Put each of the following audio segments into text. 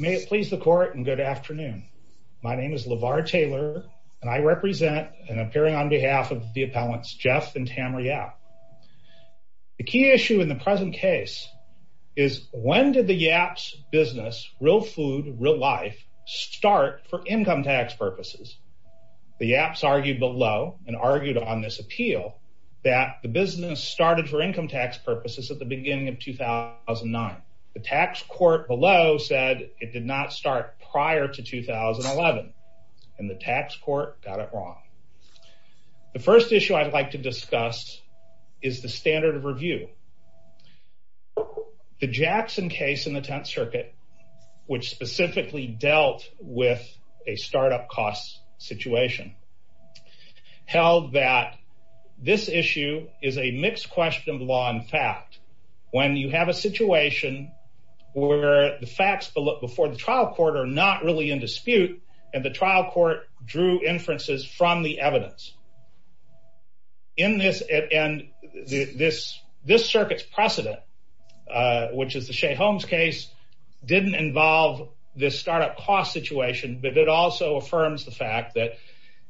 May it please the court and good afternoon. My name is LeVar Taylor and I represent and appearing on behalf of the appellants Jeff and Tamra Yapp. The key issue in the present case is when did the Yapp's business, Real Food Real Life, start for income tax purposes? The Yapps argued below and argued on this appeal that the business started for income tax purposes at the beginning of 2009. The tax court below said it did not start prior to 2011 and the tax court got it wrong. The first issue I'd like to discuss is the standard of review. The Jackson case in the 10th circuit which specifically dealt with a startup cost situation held that this issue is a mixed question of law and fact. When you have a situation where the facts before the trial court are not really in dispute and the trial court drew inferences from the evidence in this and this this circuit's precedent which is the Shea Holmes case didn't involve this startup cost situation but it also affirms the fact that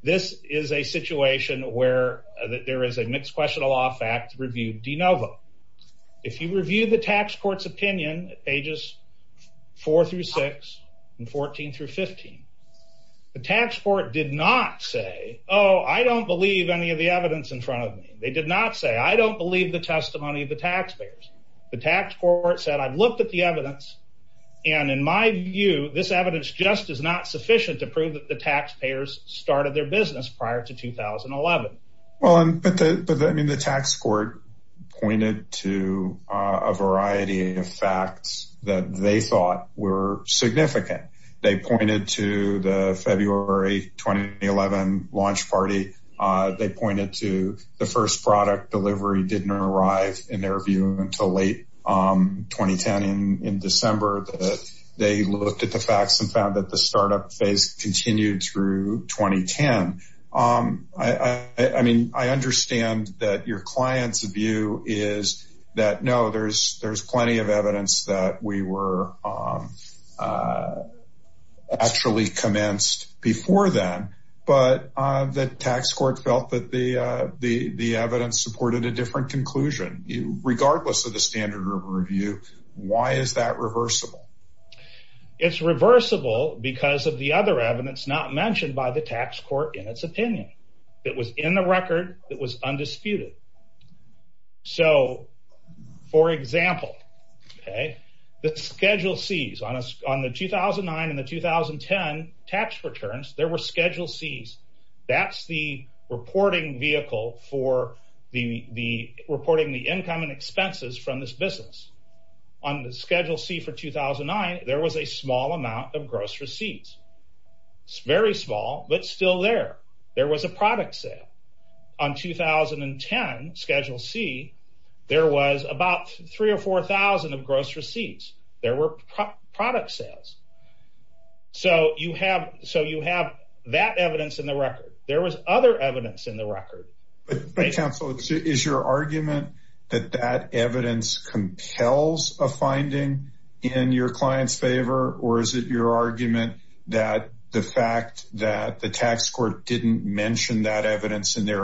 this is a situation where there is a mixed question of law fact review de novo. If you review the tax court's opinion pages 4 through 6 and 14 through 15 the tax court did not say oh I don't believe any of the evidence in front of me. They did not say I don't believe the testimony of the taxpayers. The tax court said I've looked at the evidence and in my view this evidence just is not sufficient to prove that the taxpayers started their business prior to 2011. The tax court pointed to a variety of facts that they thought were significant. They pointed to the February 2011 launch party. They pointed to the first product delivery didn't arrive in their view until late 2010 in December that they looked at the facts and found that the startup phase continued through 2010. I mean I understand that your client's view is that no there's there's plenty of evidence that we were actually commenced before then but the tax court felt that the evidence supported a different conclusion regardless of the standard review. Why is that reversible? It's reversible because of the other evidence not mentioned by the tax court in its opinion. It was in the record that was undisputed. So for example okay the schedule C's on the 2009 and the 2010 tax returns there were schedule C's. That's the reporting vehicle for the reporting the income and expenses from this business. On the schedule C for 2009 there was a small amount of gross receipts. It's very small but still there. There was a product sale. On 2010 schedule C there was about three or four thousand of gross receipts. There were product sales. So you have so you have that evidence in the record. There was other evidence in the record. But counsel is your argument that that evidence compels a finding in your client's favor or is their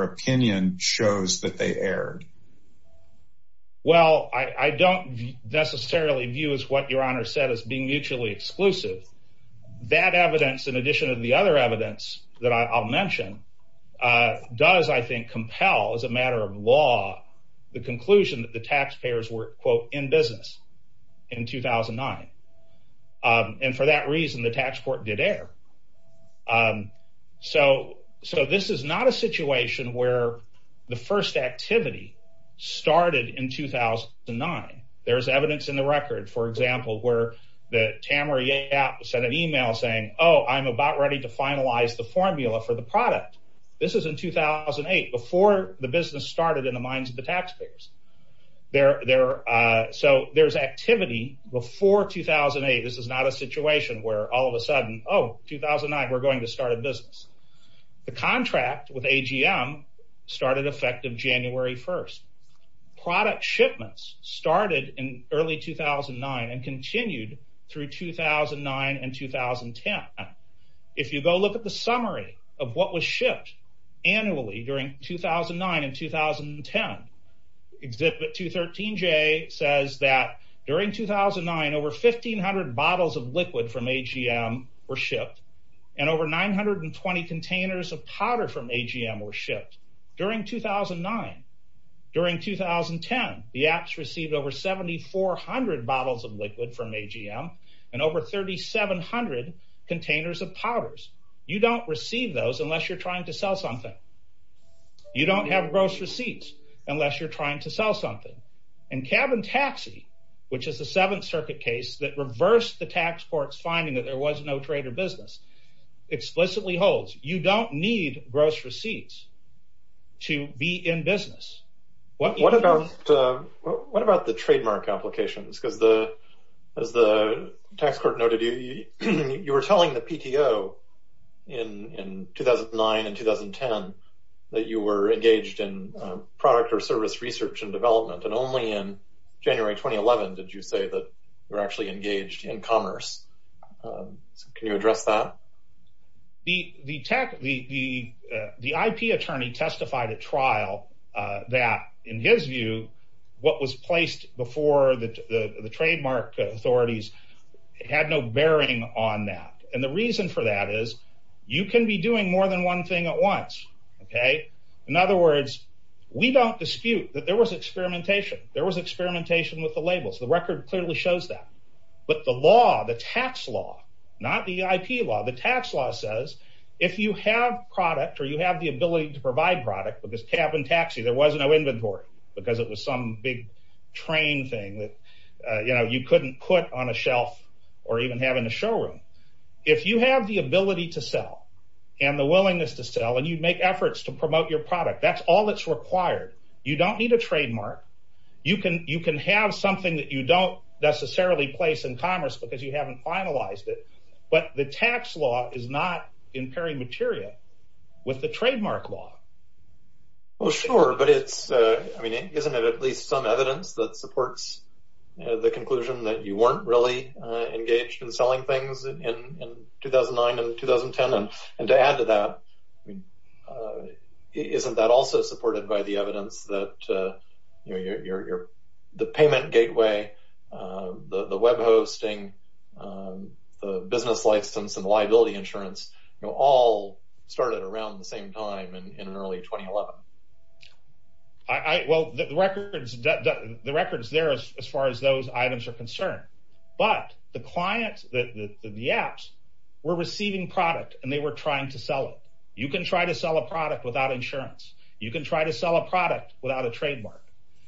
opinion shows that they erred? Well I don't necessarily view as what your honor said as being mutually exclusive. That evidence in addition to the other evidence that I'll mention does I think compel as a matter of law the conclusion that the taxpayers were quote in where the first activity started in 2009. There's evidence in the record for example where that Tamara Yap sent an email saying oh I'm about ready to finalize the formula for the product. This is in 2008 before the business started in the minds of the taxpayers. So there's activity before 2008. This is not a situation where all of a sudden oh 2009 we're to start a business. The contract with AGM started effective January 1st. Product shipments started in early 2009 and continued through 2009 and 2010. If you go look at the summary of what was shipped annually during 2009 and 2010. Exhibit 213J says that during 2009 over 1500 bottles of liquid from AGM were shipped and over 920 containers of powder from AGM were shipped. During 2009 during 2010 the apps received over 7400 bottles of liquid from AGM and over 3700 containers of powders. You don't receive those unless you're trying to sell something. You don't have gross receipts unless you're trying to sell something and Cabin Taxi which is the 7th circuit case that reversed the tax court's finding that there was no trade or business explicitly holds. You don't need gross receipts to be in business. What about the trademark applications because as the tax court noted you were telling the PTO in 2009 and 2010 that you were engaged in product or service research and development and only in 2011 did you say that you were actually engaged in commerce. Can you address that? The IP attorney testified at trial that in his view what was placed before the trademark authorities had no bearing on that and the reason for that is you can be doing more than one thing at once. In other words we don't dispute that there was experimentation. There was the record clearly shows that but the law the tax law not the IP law the tax law says if you have product or you have the ability to provide product because Cabin Taxi there was no inventory because it was some big train thing that you couldn't put on a shelf or even have in a showroom. If you have the ability to sell and the willingness to sell and you make efforts to promote your product that's all that's required. You don't need a trademark. You can have something that you don't necessarily place in commerce because you haven't finalized it but the tax law is not impairing material with the trademark law. Well sure but it's I mean isn't it at least some evidence that supports the conclusion that you weren't really engaged in selling things in 2009 and 2010 and to add to that I mean isn't that also supported by the evidence that the payment gateway, the web hosting, the business license and liability insurance all started around the same time in early 2011. Well the records there as far as those items are concerned but the client that the apps were receiving product and they were trying to sell it. You can try to sell a product without insurance. You can try to sell a product without a trademark.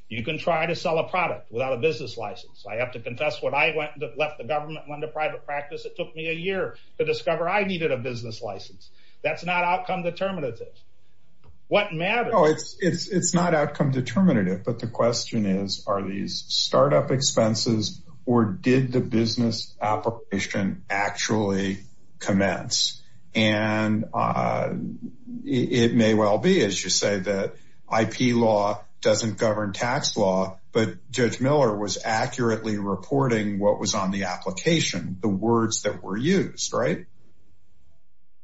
You can try to sell a product without a business license. I have to confess when I went and left the government and went into private practice it took me a year to discover I needed a business license. That's not outcome determinative. What matters. It's not outcome determinative but the question is are these startup expenses or did the business application actually commence and it may well be as you say that IP law doesn't govern tax law but Judge Miller was accurately reporting what was on the application. The words that were used right.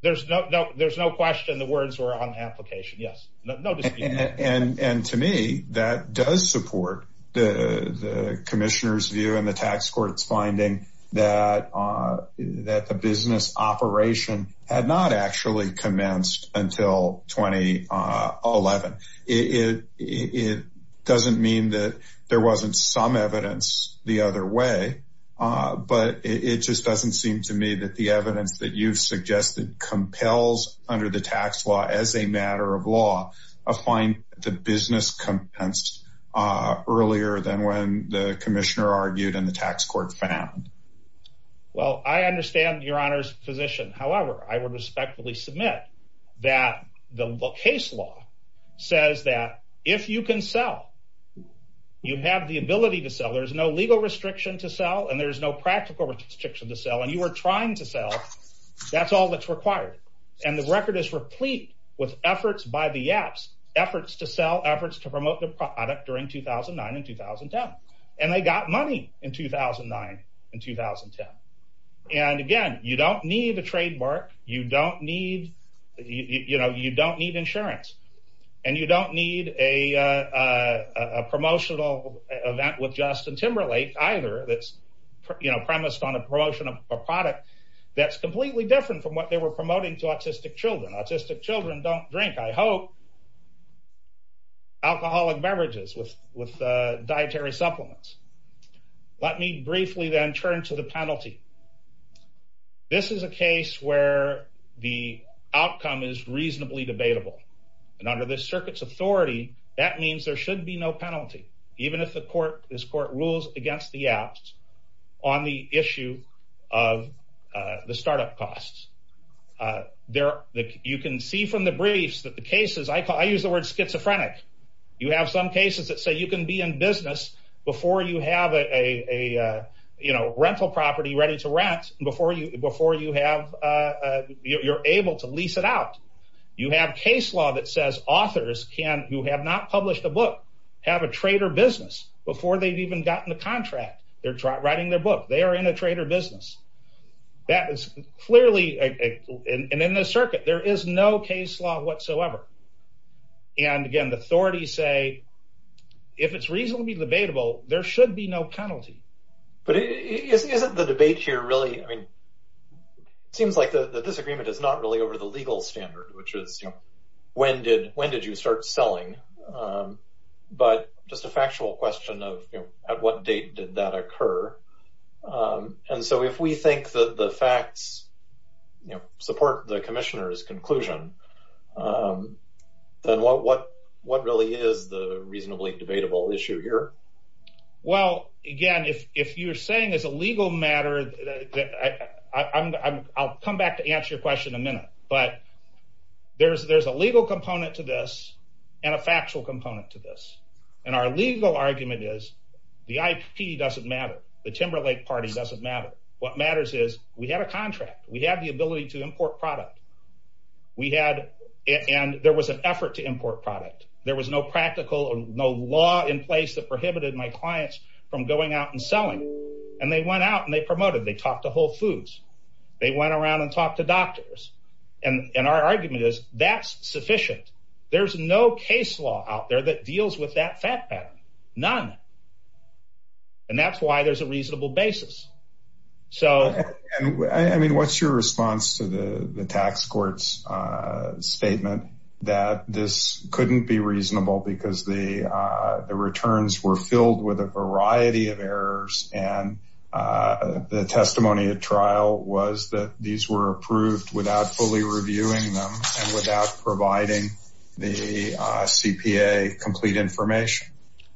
There's no there's no question the words were on application. Yes no and to me that does support the commissioner's view and the tax court's finding that the business operation had not actually commenced until 2011. It doesn't mean that there wasn't some evidence the other way but it just doesn't seem to me that the evidence that you've suggested compels under the tax law as a matter of law of find the business compensed earlier than when the commissioner argued and the tax court found. Well I understand your honor's position. However I would respectfully submit that the case law says that if you can sell you have the ability to sell. There's no legal restriction to sell and there's no practical restriction to sell and you are trying to sell. That's all that's required and the record is replete with efforts by the apps efforts to sell efforts to promote the product during 2009 and 2010 and they got money in 2009 and 2010. And again you don't need a trademark. You don't need you know you don't need insurance and you don't need a promotional event with Justin Timberlake either that's you know premised on a promotion of a product that's completely different from what they were promoting to autistic children. Autistic children don't drink I hope alcoholic beverages with with dietary supplements. Let me briefly then turn to the penalty. This is a case where the outcome is reasonably debatable and under this circuit's authority that means there should be no penalty even if the court this court rules against the apps on the issue of the startup costs. There you can see from the briefs that the cases I call I use the word schizophrenic. You have some cases that say you can be in business before you have a you know rental property ready to rent before you before you have you're able to lease it out. You have case law that says authors can who have not published a book have a trader business before they've even gotten the contract. They're writing their book. They are in a trader business. That is clearly and in this circuit there is no case law whatsoever. And again the authorities say if it's reasonably debatable there should be no penalty. But isn't the debate here really I mean it seems like the disagreement is not really over the legal standard which is you know when did when did you start selling but just a factual question of at what date did that occur. And so if we think that the facts you know support the commissioner's conclusion then what what what really is the reasonably debatable issue here. Well again if if you're saying it's a legal matter that I I'm I'll come back to answer your question in a minute. But there's there's a legal component to this and a factual component to this. And our legal argument is the IP doesn't matter. The Timberlake party doesn't matter. What matters is we had a contract. We have the ability to import product. We had and there was an effort to import product. There was no practical or no law in place that prohibited my clients from going out and selling. And they went out and they promoted they talked to Whole Foods. They went around and talked to doctors. And our argument is that's sufficient. There's no case law out there that deals with that fact that none. And that's why there's a reasonable basis. So I mean what's your response to the tax court's statement that this couldn't be reasonable because the returns were without fully reviewing them and without providing the CPA complete information.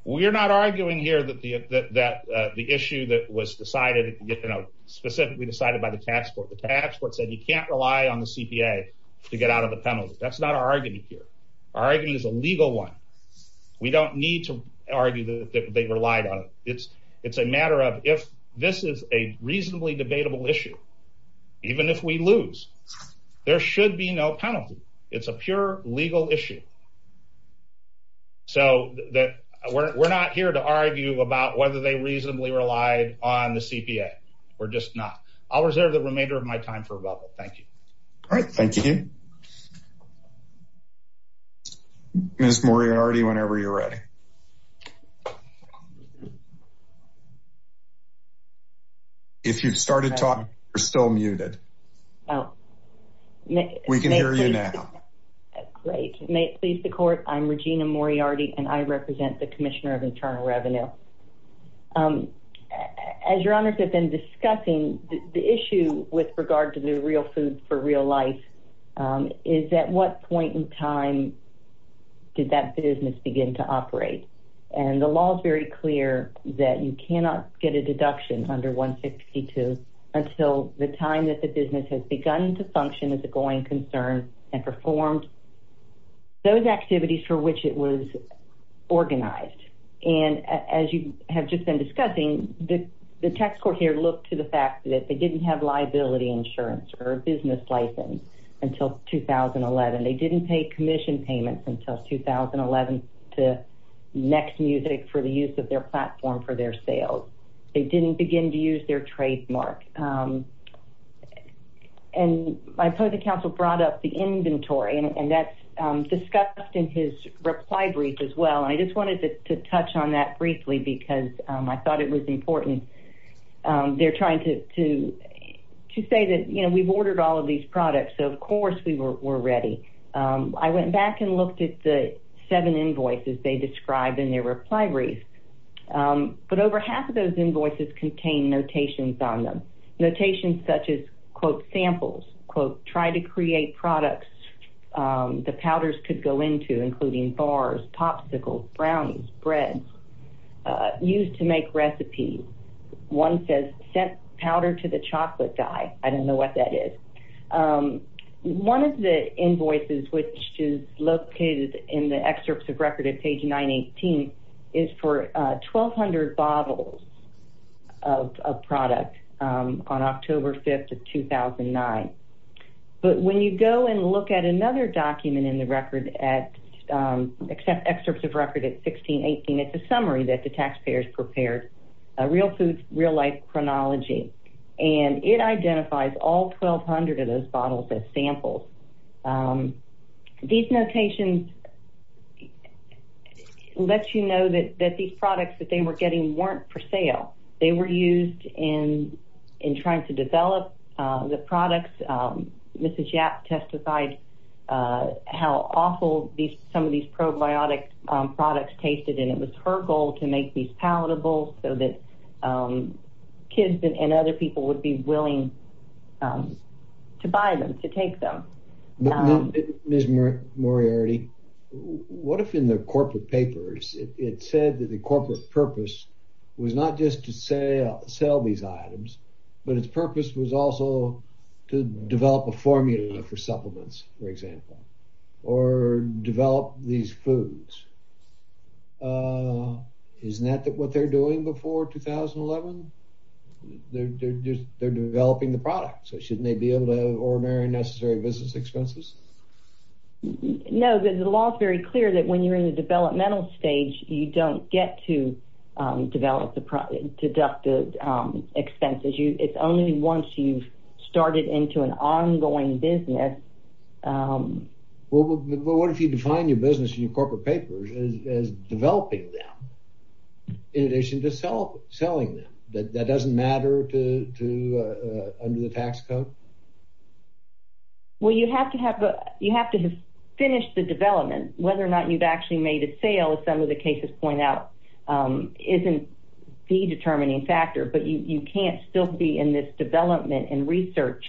We're not arguing here that the that the issue that was decided you know specifically decided by the tax court the tax court said you can't rely on the CPA to get out of the penalty. That's not our argument here. Our argument is a legal one. We don't need to argue that they relied on it. It's should be no penalty. It's a pure legal issue. So that we're not here to argue about whether they reasonably relied on the CPA. We're just not. I'll reserve the remainder of my time for rebuttal. Thank you. All right. Thank you. Ms. Moriarty whenever you're ready. If you've started talking you're still muted. Oh. We can hear you now. Great. May it please the court. I'm Regina Moriarty and I represent the Commissioner of Internal Revenue. As your honors have been discussing the issue with regard to the real food for real life is at what point time did that business begin to operate. And the law is very clear that you cannot get a deduction under 162 until the time that the business has begun to function as a going concern and performed those activities for which it was organized. And as you have just been discussing the tax court here looked to the fact that they didn't have liability insurance or a business license until 2011. They didn't pay commission payments until 2011 to next music for the use of their platform for their sales. They didn't begin to use their trademark. And I put the council brought up the inventory and that's discussed in his reply brief as well. I just wanted to touch on that briefly because I thought it was important. They're trying to say that you know these products of course we were ready. I went back and looked at the seven invoices they described in their reply brief. But over half of those invoices contain notations on them. Notations such as quote samples quote try to create products the powders could go into including bars popsicles brownies bread used to make recipes. One says set powder to the chocolate guy. I don't know what that is. One of the invoices which is located in the excerpts of record at page 9 18 is for 1200 bottles of product on October 5th of 2009. But when you go and look at another document in the record at except excerpts of record at 16 18 it's a summary that the taxpayers prepared a real food real life chronology and it identifies all 1200 of those bottles as samples. These notations let you know that that these products that they were getting weren't for sale. They were used in in trying to develop the products. Mrs. Yap testified how awful these some of these probiotic products tasted and it was her goal to make these palatable so that kids and other people would be willing to buy them to take them. Miss Moriarty what if in the corporate papers it said that the corporate purpose was not just to sell these items but its purpose was also to develop a formula for supplements for example or develop these foods. Uh isn't that what they're doing before 2011? They're just they're developing the product so shouldn't they be able to have ordinary necessary business expenses? No the law is very clear that when you're in the developmental stage you don't get to develop the product deducted expenses you it's only once you've started into an ongoing business. Um well but what if you define your business in your corporate papers as developing them in addition to sell selling them that that doesn't matter to to uh under the tax code? Well you have to have you have to have finished the development whether or not you've actually made a sale as some of the cases point out um isn't the determining factor but you you can't still be in this development and research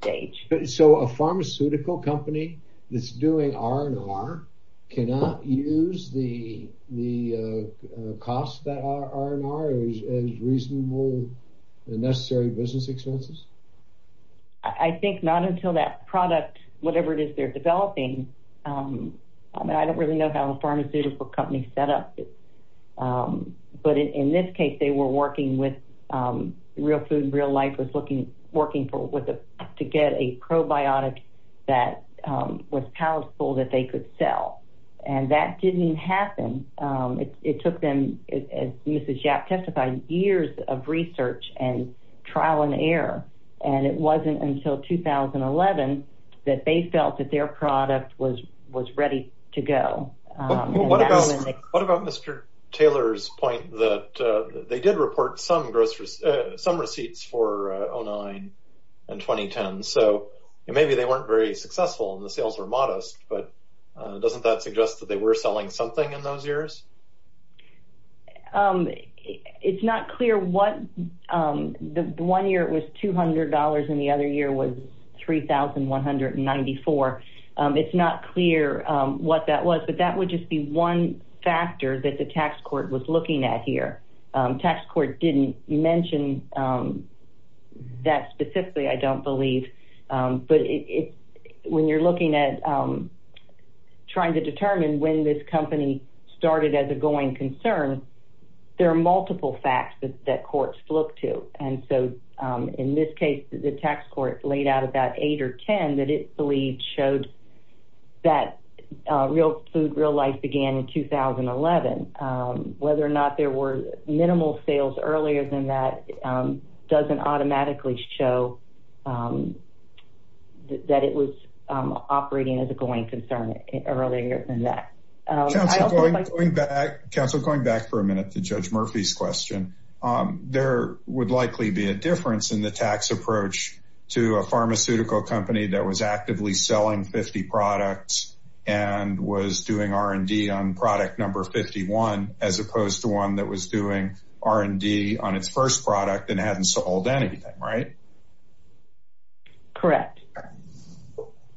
stage. So a pharmaceutical company that's doing R&R cannot use the the uh cost that R&R as reasonable and necessary business expenses? I think not until that product whatever it is they're developing um I mean I don't really know how a pharmaceutical company set up um but in this case they were working with um real food real life was looking working for what the to get a probiotic that um was powerful that they could sell and that didn't happen um it took them as Mrs. Yap testified years of research and trial and error and it wasn't until 2011 that they felt that their product was was ready to go. What about Mr. Taylor's point that they did report some gross some receipts for 09 and 2010 so maybe they weren't very successful and the sales were modest but doesn't that suggest that they were selling something in those years? Um it's not clear what um the one year it was $200 and the other year was $3,194. It's not clear um what that was but that would just be one factor that the tax court was looking at here. Tax court didn't mention um that specifically I don't believe um but it's when you're looking at um trying to determine when this company started as a going concern there are multiple facts that courts look to and so um in this case the tax court laid out about eight or ten that it believed showed that uh real food real life began in 2011. Whether or not there were minimal sales earlier than that doesn't automatically show um that it was um operating as a going concern earlier than that. Counselor going back for a minute to Judge Murphy's question um there would likely be a difference in the tax approach to a pharmaceutical company that was actively selling 50 products and was doing R&D on product number 51 as opposed to one that was doing R&D on its first product and hadn't sold anything right? Correct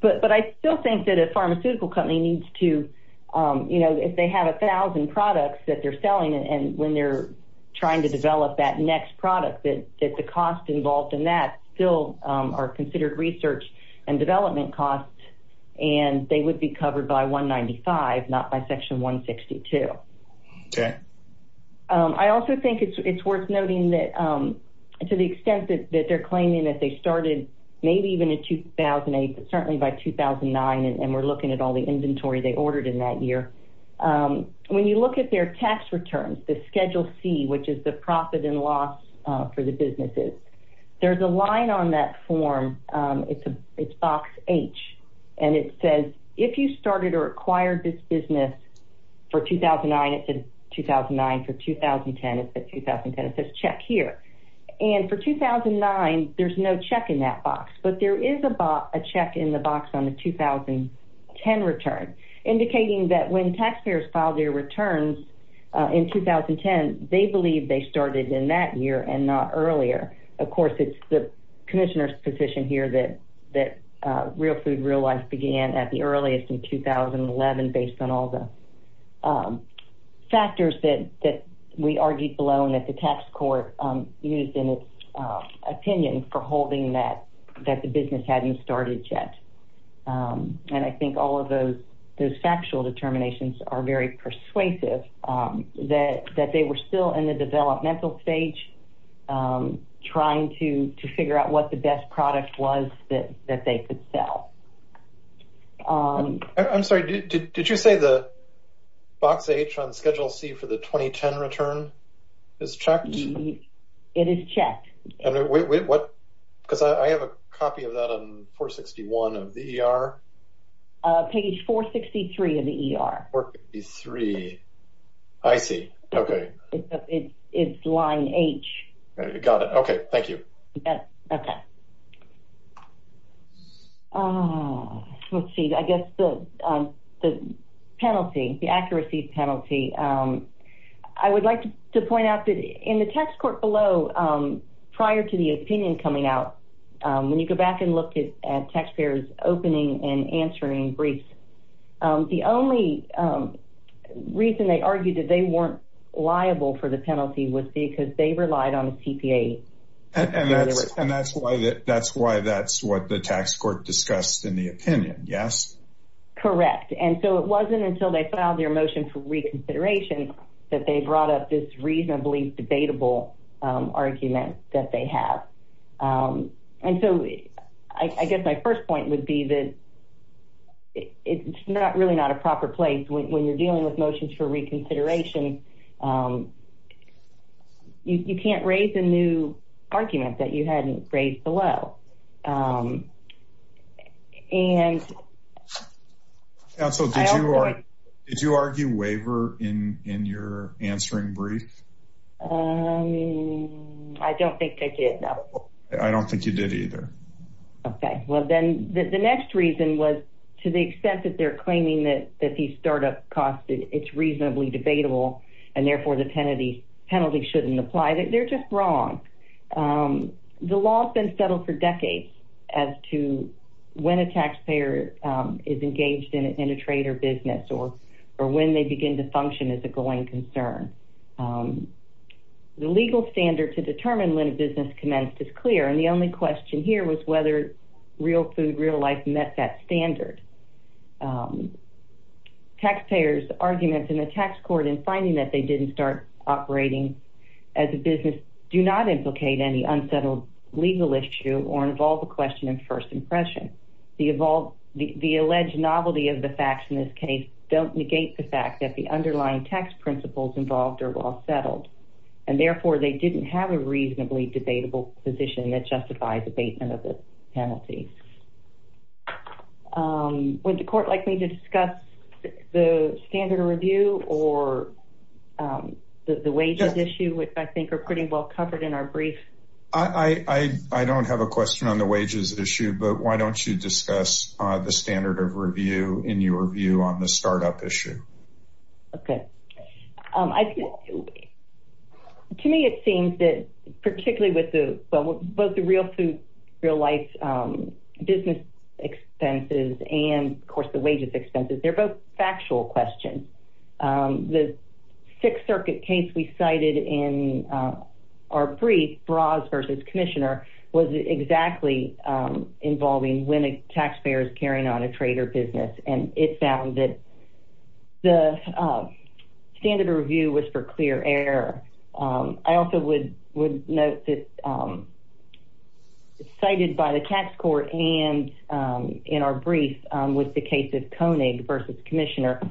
but but I still think that a pharmaceutical company needs to um you know if they have a thousand products that they're selling and when they're trying to develop that next product that that the cost involved in that still um are considered research and development costs and they would be covered by 195 not by that um to the extent that they're claiming that they started maybe even in 2008 but certainly by 2009 and we're looking at all the inventory they ordered in that year um when you look at their tax returns the schedule c which is the profit and loss uh for the businesses there's a line on that form um it's a it's box h and it says if you started or acquired this business for 2009 it said 2009 for 2010 it's at 2010 it says check here and for 2009 there's no check in that box but there is a box a check in the box on the 2010 return indicating that when taxpayers file their returns in 2010 they believe they started in that year and not earlier of course it's the commissioner's position here that that uh real food real life began at the earliest in 2011 based on all the um factors that that we argued below and that the tax court um used in its opinion for holding that that the business hadn't started yet um and i think all of those those factual determinations are very persuasive um that that they were still in the developmental stage um trying to to figure out what the best product was that that they could sell um i'm sorry did did you say the box h on schedule c for the 2010 return is checked it is checked and what because i i have a copy of that on 461 of the er uh page 463 of the er 463 i see okay it's line h got it okay thank you okay uh let's see i guess the um the penalty the accuracy penalty um i would like to point out that in the tax court below um prior to the opinion coming out um when you go back and look at taxpayers opening and answering briefs um the only um reason they argued that they weren't liable for the penalty was because they relied on a tpa and that's and that's why that that's why that's what the tax court discussed in the opinion yes correct and so it wasn't until they filed their motion for reconsideration that they brought up this reasonably debatable um argument that they have um and so i i guess my first point would be that it's not really not a proper place when you're dealing with motions for reconsideration you can't raise a new argument that you hadn't raised below um and yeah so did you are did you argue waiver in in your answering brief um i don't think i did no i don't think you did either okay well then the next reason was to the extent that they're claiming that that these startup costs it's reasonably debatable and therefore the penalty penalty shouldn't apply that they're just wrong um the law has settled for decades as to when a taxpayer is engaged in a trader business or or when they begin to function as a going concern um the legal standard to determine when a business commenced is clear and the only question here was whether real food real life met that standard um taxpayers arguments in the tax court in finding that they didn't start operating as a business do not implicate any unsettled legal issue or involve a question in first impression the evolved the alleged novelty of the facts in this case don't negate the fact that the underlying tax principles involved are well settled and therefore they didn't have a reasonably debatable position that justifies abatement of the penalty um would the court like me to discuss the standard review or um the wages issue which i think are pretty well covered in our brief i i i don't have a question on the wages issue but why don't you discuss uh the standard of review in your view on the startup issue okay um i think to me it seems that particularly with the both the real food real life um business expenses and of course the wages expenses they're both factual questions um the sixth circuit case we cited in our brief bras versus commissioner was exactly um involving winning taxpayers carrying on a trader business and it found that the standard review was for clear air um i also would would um cited by the tax court and um in our brief um with the case of konig versus commissioner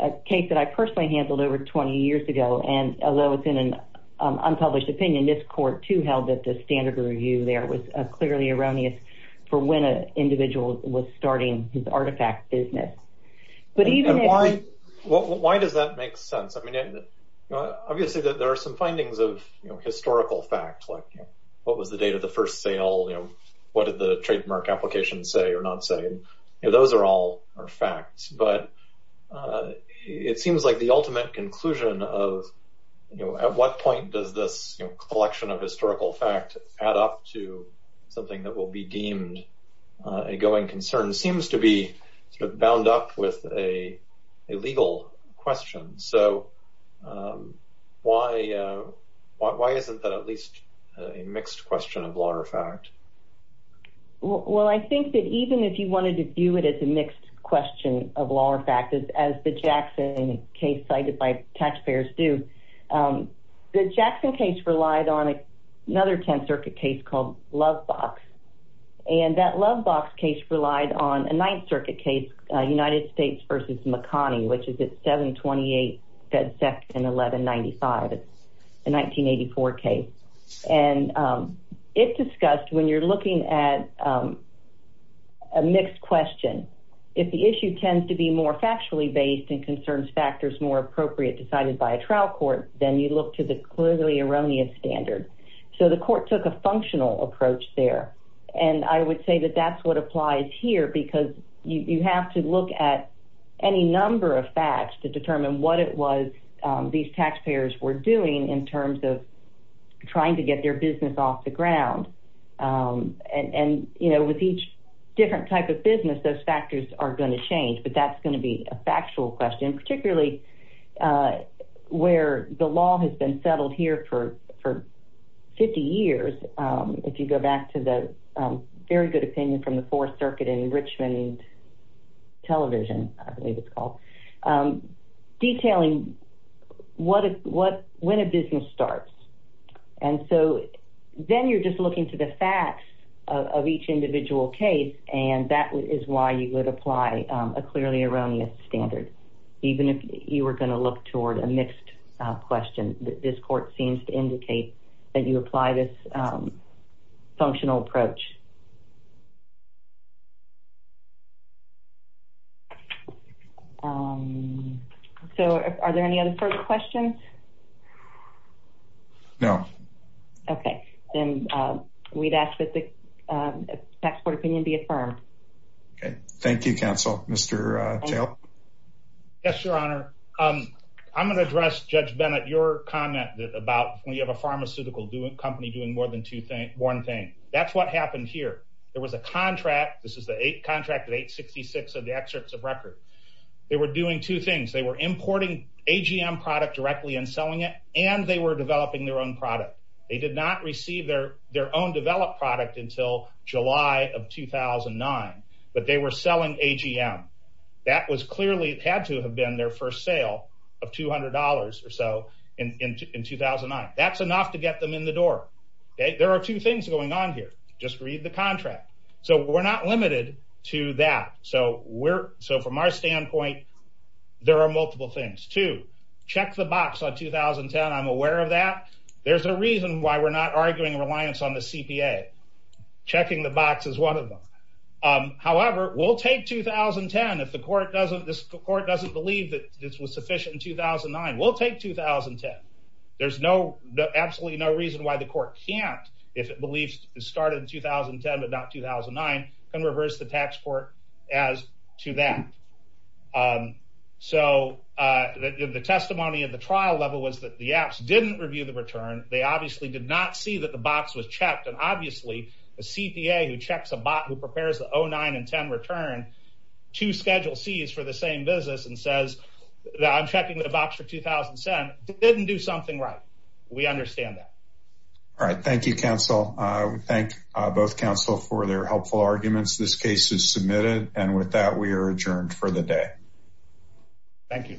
a case that i personally handled over 20 years ago and although it's in an unpublished opinion this court too held that the standard review there was clearly erroneous for when a individual was starting his artifact business but even why why does that make sense i mean obviously there are some findings of you know historical fact like what was the date of the first sale you know what did the trademark application say or not say those are all are facts but uh it seems like the ultimate conclusion of you know at what point does this collection of historical fact add up to something that will be deemed a going concern seems to be sort of bound up with a legal question so um why uh why isn't that at least a mixed question of law or fact well i think that even if you wanted to view it as a mixed question of law or fact as the jackson case cited by taxpayers do um the jackson case relied on another 10th circuit case called love box and that love case relied on a ninth circuit case united states versus mcconnie which is at 728 fed sec and 1195 it's a 1984 case and um it discussed when you're looking at a mixed question if the issue tends to be more factually based and concerns factors more appropriate decided by a trial court then you look to the clearly erroneous standard so the court took a functional approach there and i would say that that's what applies here because you have to look at any number of facts to determine what it was these taxpayers were doing in terms of trying to get their business off the ground and and you know with each different type of business those factors are going to change but that's going to be a factual question particularly uh where the law has been settled here for for 50 years um if you go back to the very good opinion from the fourth circuit in richmond television i believe it's called um detailing what is what when a business starts and so then you're just looking to the facts of each individual case and that is why you would apply a clearly erroneous standard even if you were going to look toward a mixed question that this court seems to indicate that you apply this functional approach so are there any other further questions no okay then um we'd ask that the um tax court opinion be affirmed okay thank you counsel mr uh tail yes your honor um i'm going to address judge bennett your comment about when you have a pharmaceutical doing company doing more than two things one thing that's what happened here there was a contract this is the eight contract of 866 of the excerpts of record they were doing two things they were importing agm product directly and selling it and they were developing their own product they did not receive their their own developed product until july of 2009 but they were selling agm that was clearly it had to have been their first sale of 200 or so in in 2009 that's enough to get them in the door okay there are two things going on here just read the contract so we're not limited to that so we're so from our standpoint there are multiple things to check the box on 2010 i'm aware of that there's a reason why we're not arguing reliance on the cpa checking the box is one of them um however we'll take 2010 if the court doesn't this court doesn't believe that this was sufficient in 2009 we'll take 2010 there's no absolutely no reason why the court can't if it believes it started in 2010 but not 2009 can reverse the tax court as to that um so uh the testimony of the trial level was that the apps didn't review the return they obviously did not see that the box was checked and obviously the cpa who checks a bot who prepares the 0 9 and 10 return to schedule c's for the same business and says that i'm we understand that all right thank you counsel uh we thank both counsel for their helpful arguments this case is submitted and with that we are adjourned for the day thank you